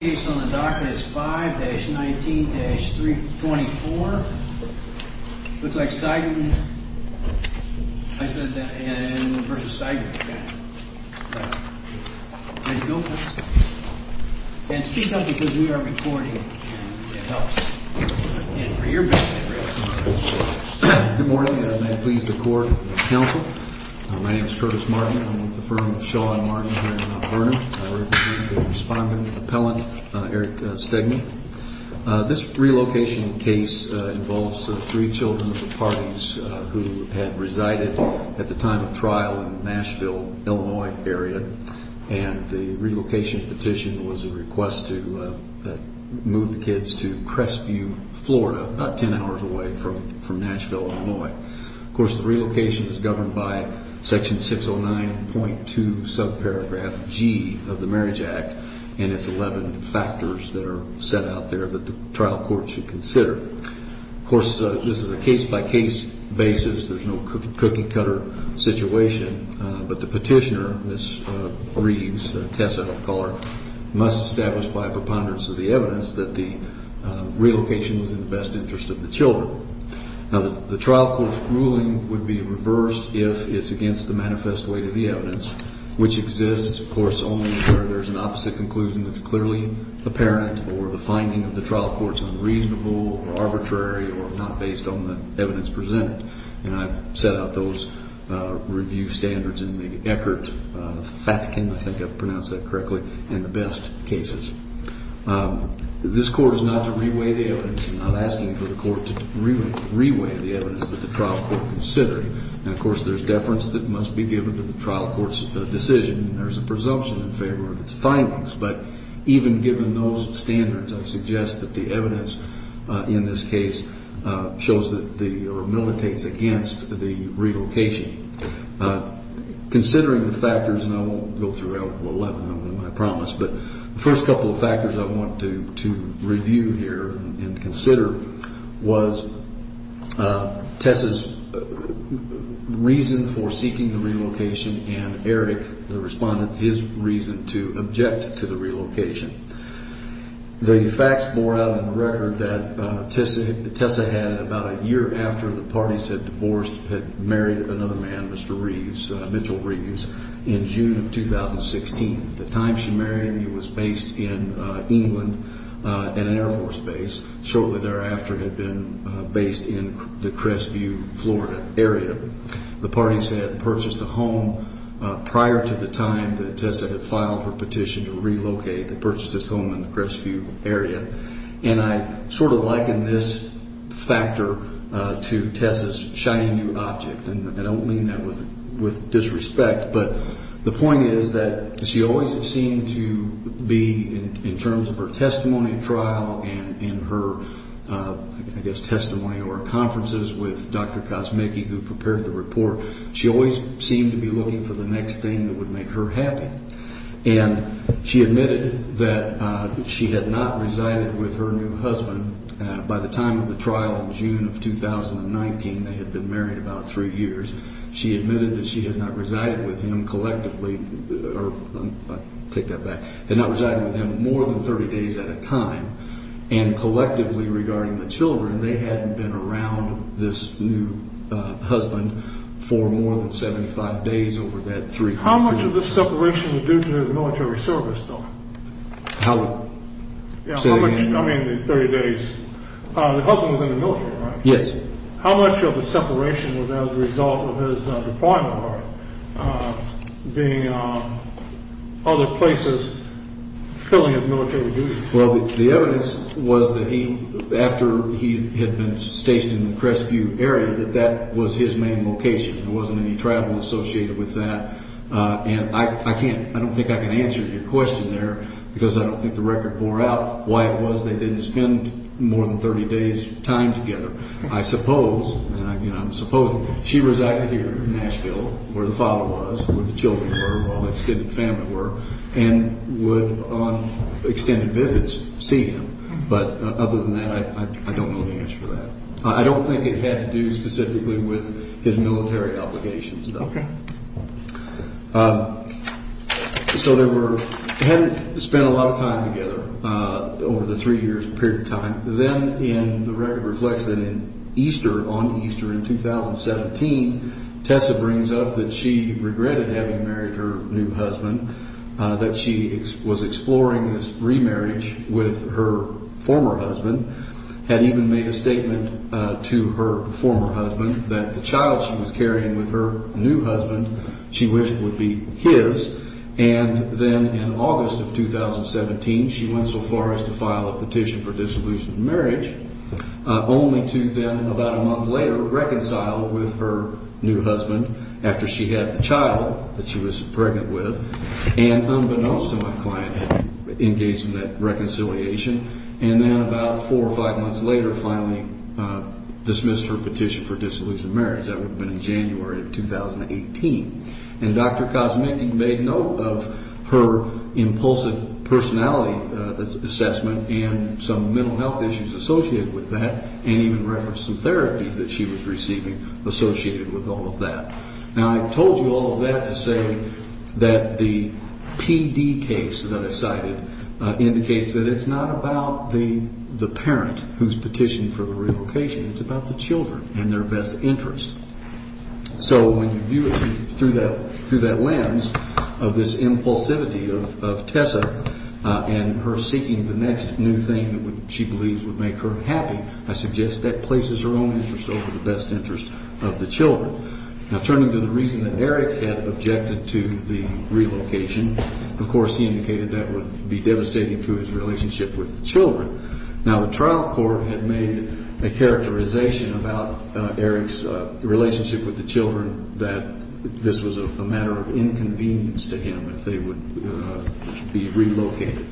Good morning, and I please the court and counsel. My name is Curtis Martin. I'm with the firm of Shaw & Martin here in Burnham. I represent the respondent, appellant Eric Stiegman. This relocation case involves three children of the parties who had resided at the time of trial in the Nashville, Illinois area, and the relocation petition was a request to move the kids to Crestview, Florida, about ten hours away from Nashville, Illinois. Of course, the relocation was governed by Section 609.2 of the Marriage Act, and it's 11 factors that are set out there that the trial court should consider. Of course, this is a case-by-case basis. There's no cookie-cutter situation, but the petitioner, Ms. Reeves, Tessa McCuller, must establish by preponderance of the evidence that the relocation was in the best interest of the children. Now, the trial court's ruling would be reversed if it's against the manifest weight of the evidence. Which exists, of course, only where there's an opposite conclusion that's clearly apparent or the finding of the trial court's unreasonable or arbitrary or not based on the evidence presented. And I've set out those review standards in the Eckert-Fatkin, I think I've pronounced that correctly, in the best cases. This court is not to re-weigh the evidence. I'm not asking for the court to re-weigh the evidence that the trial court considered. And, of course, there's deference that must be given to the trial court's decision. There's a presumption in favor of its findings, but even given those standards, I suggest that the evidence in this case shows that the, or militates against the relocation. Considering the factors, and I won't go through all 11 of them, I promise, but the first couple of factors I want to review here and consider was Tessa's reason for seeking the relocation and Eric, the respondent, his reason to object to the relocation. The facts bore out in the record that Tessa had, about a year after the parties had divorced, had married another man, Mr. Reeves, Mitchell Reeves, in June of 2016. At the time she married him, he was based in England at an Air Force base. Shortly thereafter, he had been based in the Crestview, Florida area. The parties had purchased a home prior to the time that Tessa had filed her petition to relocate, to purchase this home in the Crestview area. And I sort of liken this factor to Tessa's shiny new object. And I don't mean that with disrespect, but the point is that she always seemed to be, in terms of her testimony trial and her, I guess, testimony or conferences with Dr. Cosmicki, who prepared the report, she always seemed to be looking for the next thing that would make her happy. And she admitted that she had not resided with her new husband. By the time of the trial in June of 2019, they had been married about three years. She admitted that she had not resided with him collectively, or I'll take that back, had not resided with him more than 30 days at a time. And collectively, regarding the children, they hadn't been around this new husband for more than 75 days over that three years. How much of the separation was due to his military service, though? How much? I mean, 30 days. The husband was in the military, right? Yes. How much of the separation was as a result of his deployment, or being in other places, filling his military duties? Well, the evidence was that he, after he had been stationed in the Crestview area, that that was his main location. There wasn't any travel associated with that. And I can't, I don't think I can answer your question there, because I don't think the record bore out why it was they didn't spend more than 30 days' time together. I suppose, and I'm supposing, she resided here in Nashville, where the father was, where the children were, where all the extended family were, and would, on extended visits, see him. But other than that, I don't know the answer to that. I don't think it had to do specifically with his military obligations, though. Okay. So they were, they hadn't spent a lot of time together over the three years period of time. Then in the record reflects that in Easter, on Easter in 2017, Tessa brings up that she regretted having married her new husband, that she was exploring this remarriage with her former husband, had even made a statement to her former husband that the child she was carrying with her new husband she wished would be his. And then in August of 2017, she went so far as to file a petition for dissolution of marriage, only to then, about a month later, reconcile with her new husband after she had the child that she was pregnant with. And unbeknownst to my client, engaged in that reconciliation, and then about four or five months later, finally dismissed her petition for dissolution of marriage. That would have been in January of 2018. And Dr. Kosmenty made note of her impulsive personality assessment and some mental health issues associated with that, and even referenced some therapies that she was receiving associated with all of that. Now, I told you all of that to say that the PD case that I cited indicates that it's not about the parent who's petitioning for the relocation. It's about the children and their best interest. So when you view it through that lens of this impulsivity of Tessa and her seeking the next new thing that she believes would make her happy, I suggest that places her own interest over the best interest of the children. Now, turning to the reason that Eric had objected to the relocation, of course, he indicated that would be devastating to his relationship with the children. Now, the trial court had made a characterization about Eric's relationship with the children that this was a matter of inconvenience to him if they would be relocated,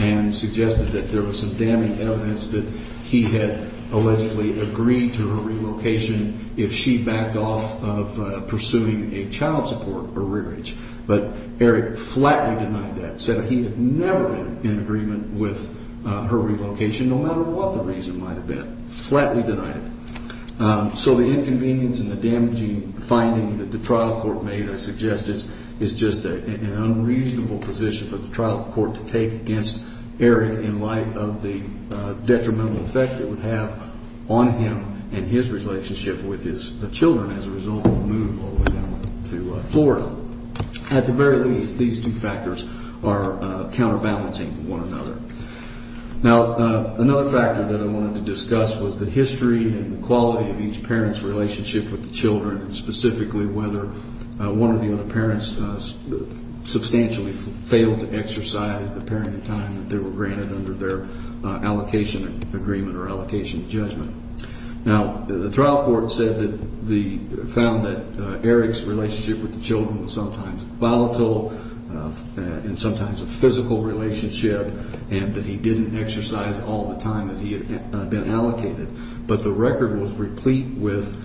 and suggested that there was some damning evidence that he had allegedly agreed to her relocation if she backed off of pursuing a child support or rearage. But Eric flatly denied that, said he had never been in agreement with her relocation, no matter what the reason might have been. Flatly denied it. So the inconvenience and the damaging finding that the trial court made, I suggest, is just an unreasonable position for the trial court to take against Eric in light of the detrimental effect it would have on him and his relationship with his children as a result of the move all the way down to Florida. At the very least, these two factors are counterbalancing one another. Now, another factor that I wanted to discuss was the history and the quality of each parent's relationship with the children, and specifically whether one of the other parents substantially failed to exercise the parenting time that they were granted under their allocation agreement or allocation judgment. Now, the trial court found that Eric's relationship with the children was sometimes volatile and sometimes a physical relationship, and that he didn't exercise all the time that he had been allocated. But the record was replete with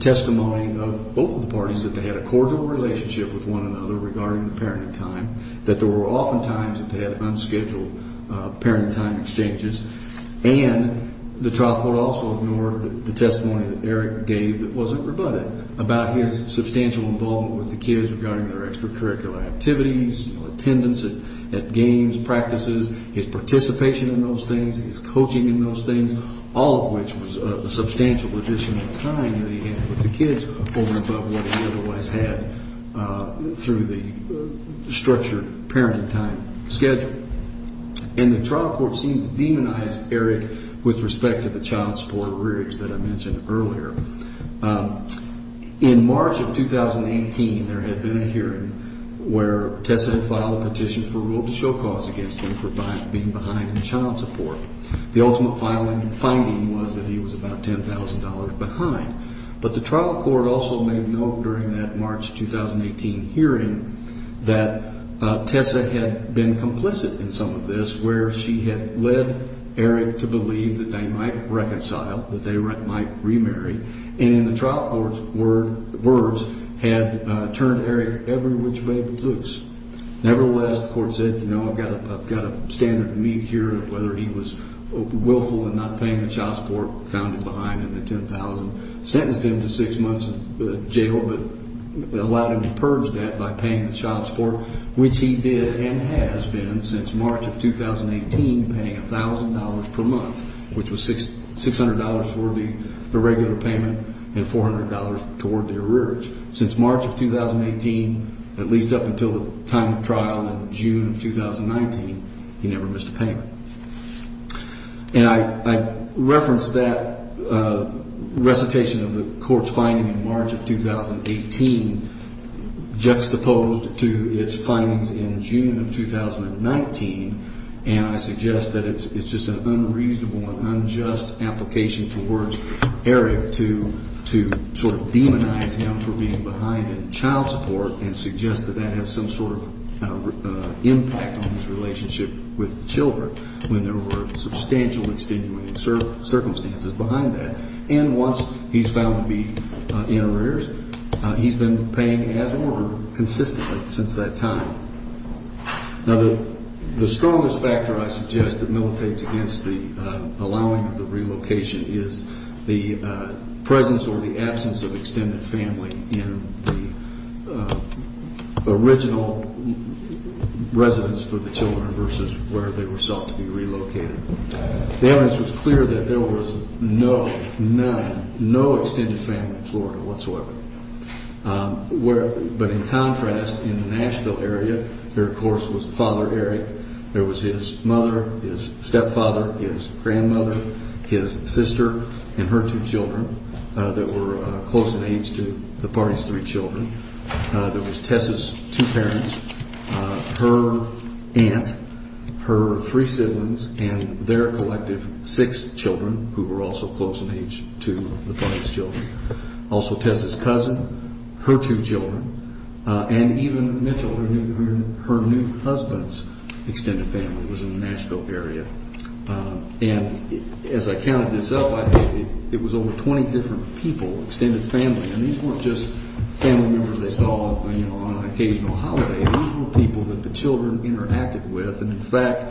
testimony of both of the parties that they had a cordial relationship with one another regarding the parenting time, that there were often times that they had unscheduled parenting time exchanges, and the trial court also ignored the testimony that Eric gave that wasn't rebutted about his substantial involvement with the kids regarding their extracurricular activities, attendance at games, practices, his participation in those things, his coaching in those things, all of which was a substantial addition of time that he had with the kids over and above what he otherwise had through the structured parenting time schedule. And the trial court seemed to demonize Eric with respect to the child support arrears that I mentioned earlier. In March of 2018, there had been a hearing where Tessa had filed a petition for rule of show cause against him for being behind in child support. The ultimate finding was that he was about $10,000 behind. But the trial court also made note during that March 2018 hearing that Tessa had been complicit in some of this, where she had led Eric to believe that they might reconcile, that they might remarry, and the trial court's words had turned Eric every which way but loose. Nevertheless, the court said, you know, I've got a standard to meet here of whether he was willful in not paying the child support, found him behind in the $10,000, sentenced him to six months in jail, but allowed him to purge that by paying the child support, which he did and has been since March of 2018, paying $1,000 per month, which was $600 for the regular payment and $400 toward the arrears. Since March of 2018, at least up until the time of trial in June of 2019, he never missed a payment. And I referenced that recitation of the court's finding in March of 2018 juxtaposed to its findings in June of 2019, and I suggest that it's just an unreasonable and unjust application towards Eric to sort of demonize him for being behind in child support and suggest that that has some sort of impact on his relationship with the children when there were substantial extenuating circumstances behind that. And once he's found to be in arrears, he's been paying as ordered consistently since that time. Now, the strongest factor I suggest that militates against the allowing of the relocation is the presence or the absence of extended family in the original residence for the children versus where they were sought to be relocated. The evidence was clear that there was no, none, no extended family in Florida whatsoever. But in contrast, in the Nashville area, there, of course, was Father Eric. There was his mother, his stepfather, his grandmother, his sister, and her two children that were close in age to the party's three children. There was Tess's two parents, her aunt, her three siblings, and their collective six children who were also close in age to the party's children. Also Tess's cousin, her two children, and even Mitchell, her new husband's extended family was in the Nashville area. And as I counted this up, it was over 20 different people, extended family. And these weren't just family members they saw on an occasional holiday. These were people that the children interacted with. And, in fact,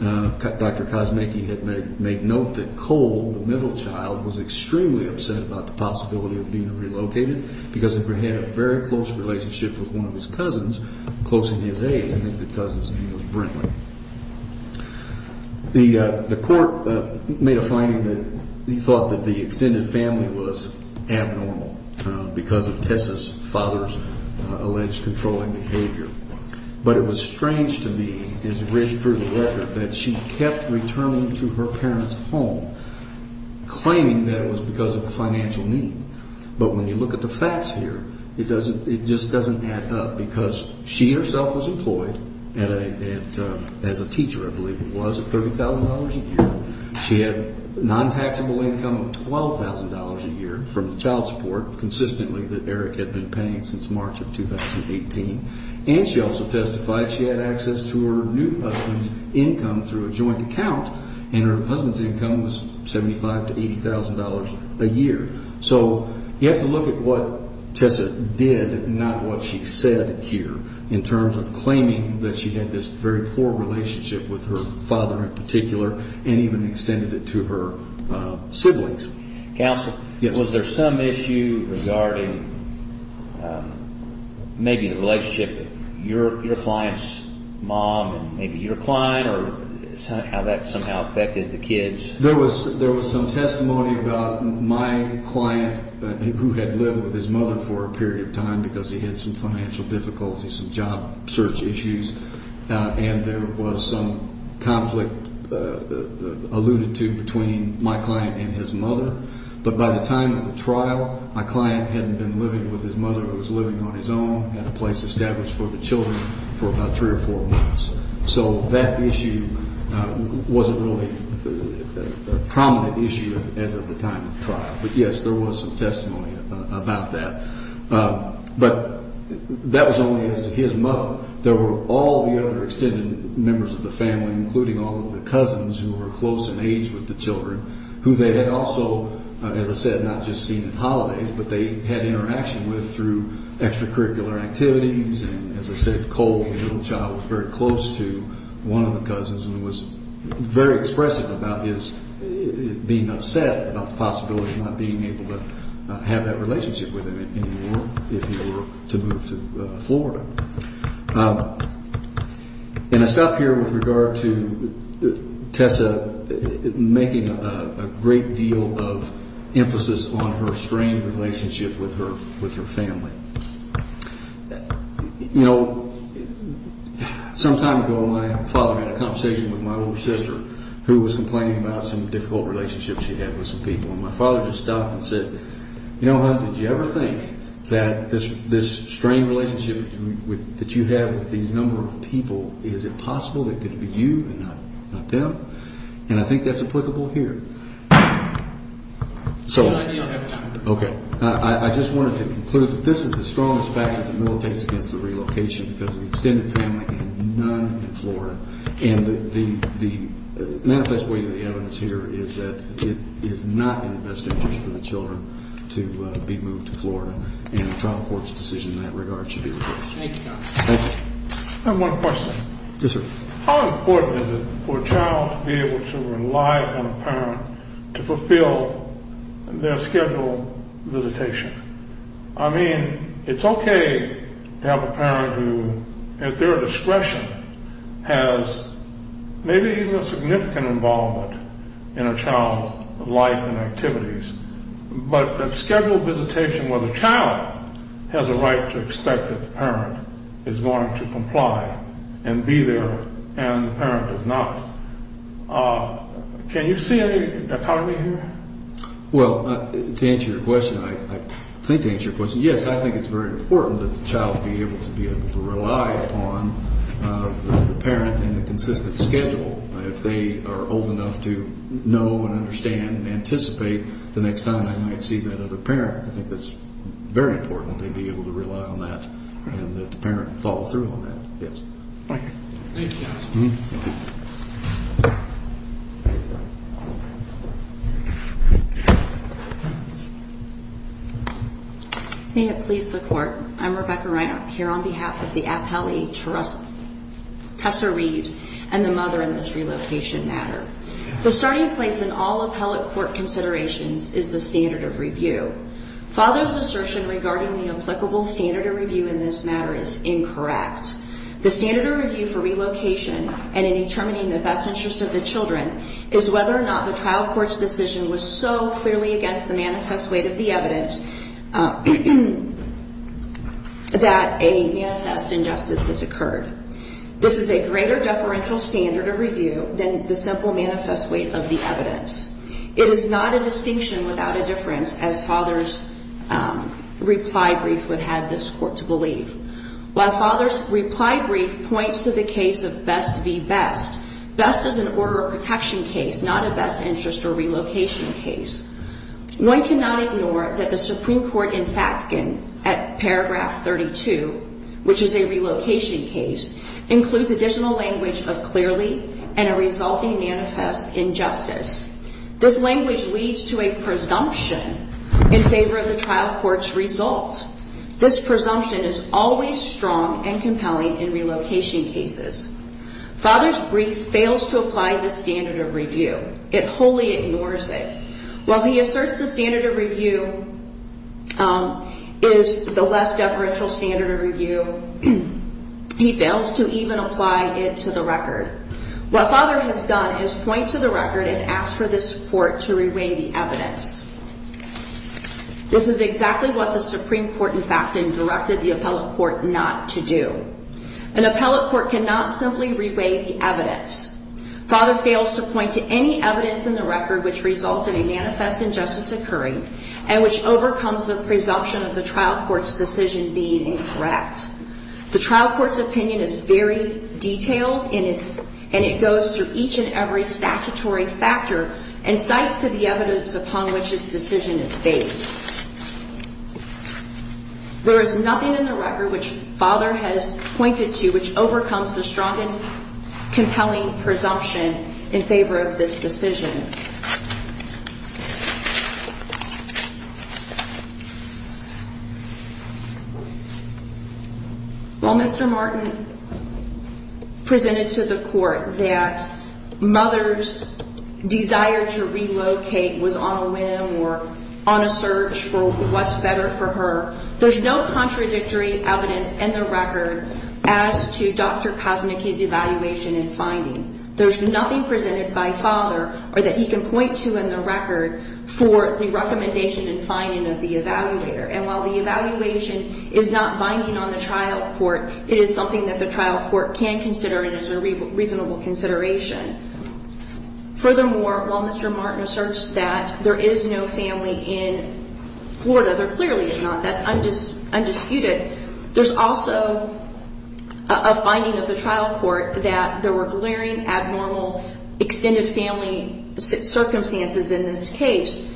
Dr. Kosmicki had made note that Cole, the middle child, was extremely upset about the possibility of being relocated because he had a very close relationship with one of his cousins close in his age. I think the cousin's name was Brinkley. The court made a finding that he thought that the extended family was abnormal because of Tess's father's alleged controlling behavior. But it was strange to me, as read through the record, that she kept returning to her parents' home claiming that it was because of financial need. But when you look at the facts here, it just doesn't add up because she herself was employed as a teacher, I believe it was, at $30,000 a year. She had non-taxable income of $12,000 a year from the child support consistently that Eric had been paying since March of 2018. And she also testified she had access to her new husband's income through a joint account, and her husband's income was $75,000 to $80,000 a year. So you have to look at what Tess did, not what she said here, in terms of claiming that she had this very poor relationship with her father in particular and even extended it to her siblings. Counsel, was there some issue regarding maybe the relationship of your client's mom and maybe your client or how that somehow affected the kids? There was some testimony about my client who had lived with his mother for a period of time because he had some financial difficulties, some job search issues. And there was some conflict alluded to between my client and his mother. But by the time of the trial, my client hadn't been living with his mother. He was living on his own at a place established for the children for about three or four months. So that issue wasn't really a prominent issue as of the time of the trial. But, yes, there was some testimony about that. But that was only as to his mother. There were all the other extended members of the family, including all of the cousins who were close in age with the children, who they had also, as I said, not just seen at holidays, but they had interaction with through extracurricular activities. And, as I said, Cole, the little child, was very close to one of the cousins and was very expressive about his being upset about the possibility of not being able to have that relationship with him anymore if he were to move to Florida. And I stop here with regard to Tessa making a great deal of emphasis on her strained relationship with her family. You know, some time ago, my father had a conversation with my little sister who was complaining about some difficult relationships she had with some people. And my father just stopped and said, You know, honey, did you ever think that this strained relationship that you have with these number of people, is it possible that it could be you and not them? And I think that's applicable here. So, okay. I just wanted to conclude that this is the strongest factor that militates against the relocation because of the extended family and none in Florida. And the manifest way of the evidence here is that it is not in the best interest for the children to be moved to Florida. And the trial court's decision in that regard should be the case. Thank you, counsel. Thank you. I have one question. Yes, sir. How important is it for a child to be able to rely on a parent to fulfill their scheduled visitation? I mean, it's okay to have a parent who, at their discretion, has maybe even a significant involvement in a child's life and activities. But a scheduled visitation where the child has a right to expect that the parent is going to comply and be there and the parent does not. Can you see any dichotomy here? Well, to answer your question, I think to answer your question, yes, I think it's very important that the child be able to rely upon the parent in a consistent schedule. If they are old enough to know and understand and anticipate, the next time they might see that other parent, I think it's very important they be able to rely on that and that the parent follow through on that. Yes. Thank you. Thank you, counsel. May it please the Court. I'm Rebecca Reiner here on behalf of the appellee, Tessa Reeves, and the mother in this relocation matter. The starting place in all appellate court considerations is the standard of review. Father's assertion regarding the applicable standard of review in this matter is incorrect. The standard of review for relocation and in determining the best interest of the children is whether or not the trial court's decision was so clearly against the manifest weight of the evidence that a manifest injustice has occurred. This is a greater deferential standard of review than the simple manifest weight of the evidence. It is not a distinction without a difference, as father's reply brief would have this court to believe. While father's reply brief points to the case of best v. best, best is an order of protection case, it is not a best interest or relocation case. One cannot ignore that the Supreme Court in fact can, at paragraph 32, which is a relocation case, includes additional language of clearly and a resulting manifest injustice. This language leads to a presumption in favor of the trial court's results. This presumption is always strong and compelling in relocation cases. Father's brief fails to apply the standard of review. It wholly ignores it. While he asserts the standard of review is the less deferential standard of review, he fails to even apply it to the record. What father has done is point to the record and ask for this court to reweigh the evidence. This is exactly what the Supreme Court in fact has directed the appellate court not to do. An appellate court cannot simply reweigh the evidence. Father fails to point to any evidence in the record which results in a manifest injustice occurring and which overcomes the presumption of the trial court's decision being incorrect. The trial court's opinion is very detailed and it goes through each and every statutory factor and cites to the evidence upon which this decision is based. There is nothing in the record which father has pointed to which overcomes the strong and compelling presumption in favor of this decision. While Mr. Martin presented to the court that mother's desire to relocate was on a whim or on a search for what's better for her, there's no contradictory evidence in the record as to Dr. Kosnicki's evaluation and finding. There's nothing presented by father or that he can point to in the record for the recommendation and finding of the evaluator. And while the evaluation is not binding on the trial court, it is something that the trial court can consider and is a reasonable consideration. Furthermore, while Mr. Martin asserts that there is no family in Florida, there clearly is not, that's undisputed, there's also a finding of the trial court that there were glaring, abnormal, extended family circumstances in this case.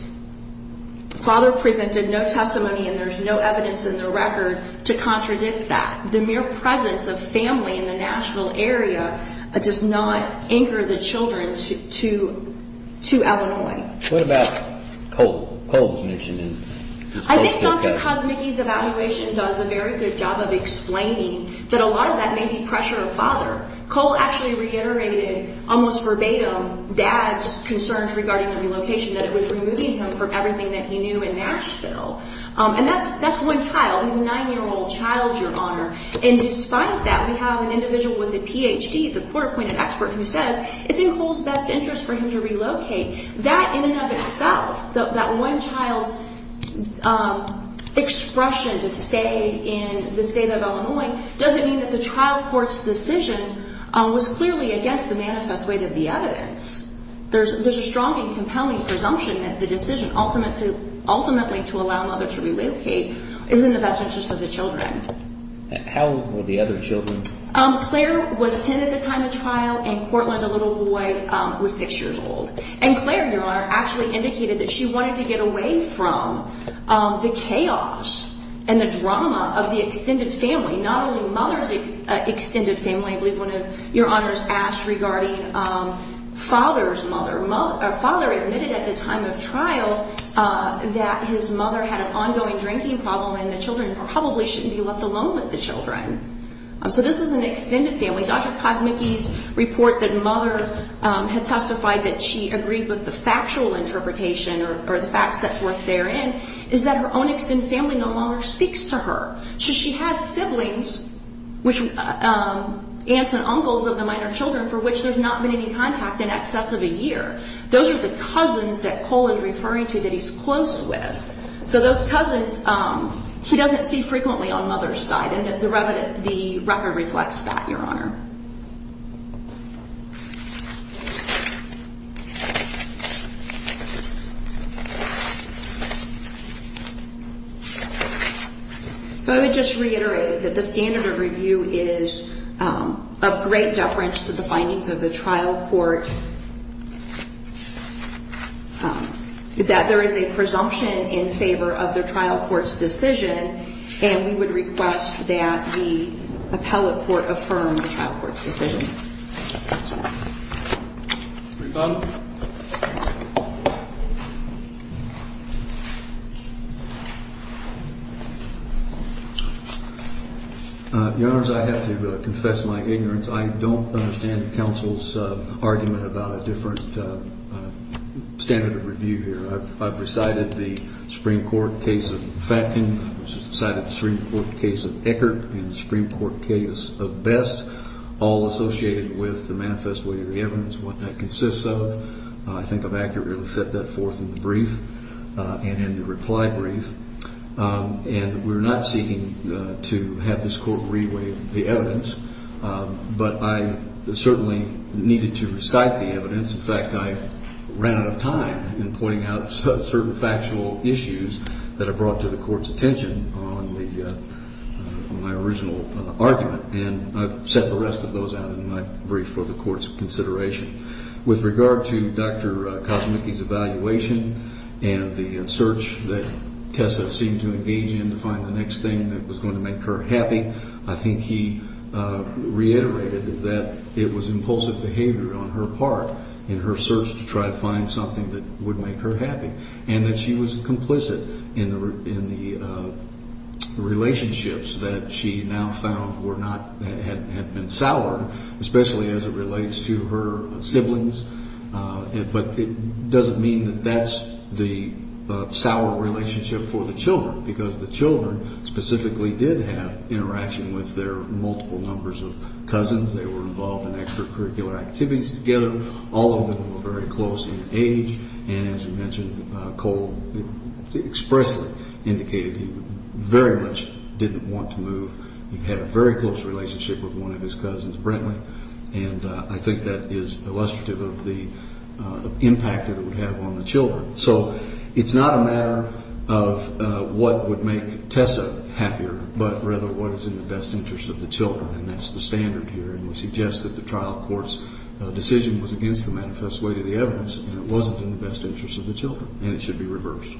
Father presented no testimony and there's no evidence in the record to contradict that. The mere presence of family in the Nashville area does not anchor the children to Illinois. I think Dr. Kosnicki's evaluation does a very good job of explaining that a lot of that may be pressure of father. Cole actually reiterated, almost verbatim, dad's concerns regarding the relocation, that it was removing him from everything that he knew in Nashville. And that's one child, he's a nine-year-old child, Your Honor. And despite that, we have an individual with a Ph.D., the court-appointed expert, who says it's in Cole's best interest for him to relocate. That in and of itself, that one child's expression to stay in the state of Illinois, doesn't mean that the trial court's decision was clearly against the manifest weight of the evidence. There's a strong and compelling presumption that the decision ultimately to allow mother to relocate is in the best interest of the children. How old were the other children? Claire was ten at the time of trial, and Cortland, the little boy, was six years old. And Claire, Your Honor, actually indicated that she wanted to get away from the chaos and the drama of the extended family. Not only mother's extended family, I believe one of Your Honors asked regarding father's mother. Father admitted at the time of trial that his mother had an ongoing drinking problem, and the children probably shouldn't be left alone with the children. So this is an extended family. Dr. Kosmicki's report that mother had testified that she agreed with the factual interpretation or the facts set forth therein is that her own extended family no longer speaks to her. So she has siblings, aunts and uncles of the minor children, for which there's not been any contact in excess of a year. Those are the cousins that Cole is referring to that he's close with. So those cousins, he doesn't see frequently on mother's side, and the record reflects that, Your Honor. So I would just reiterate that the standard of review is of great deference to the findings of the trial court, that there is a presumption in favor of the trial court's decision, and we would request that the appellate court affirm the trial court's decision. Your Honors, I have to confess my ignorance. I don't understand the counsel's argument about a different standard of review here. I've recited the Supreme Court case of Facton. I've recited the Supreme Court case of Eckert and the Supreme Court case of Best, all associated with the manifest way of the evidence and what that consists of. I think I've accurately set that forth in the brief and in the reply brief. And we're not seeking to have this court reweigh the evidence, but I certainly needed to recite the evidence. In fact, I ran out of time in pointing out certain factual issues that have brought to the court's attention on my original argument, and I've set the rest of those out in my brief for the court's consideration. With regard to Dr. Kosmicki's evaluation and the search that Tessa seemed to engage in to find the next thing that was going to make her happy, I think he reiterated that it was impulsive behavior on her part in her search to try to find something that would make her happy, and that she was complicit in the relationships that she now found had been soured, especially as it relates to her siblings, but it doesn't mean that that's the sour relationship for the children, because the children specifically did have interaction with their multiple numbers of cousins. They were involved in extracurricular activities together. All of them were very close in age, and as you mentioned, Cole expressly indicated he very much didn't want to move. He had a very close relationship with one of his cousins, Brentley, and I think that is illustrative of the impact that it would have on the children. So it's not a matter of what would make Tessa happier, but rather what is in the best interest of the children, and that's the standard here, and we suggest that the trial court's decision was against the manifest way to the evidence, and it wasn't in the best interest of the children, and it should be reversed.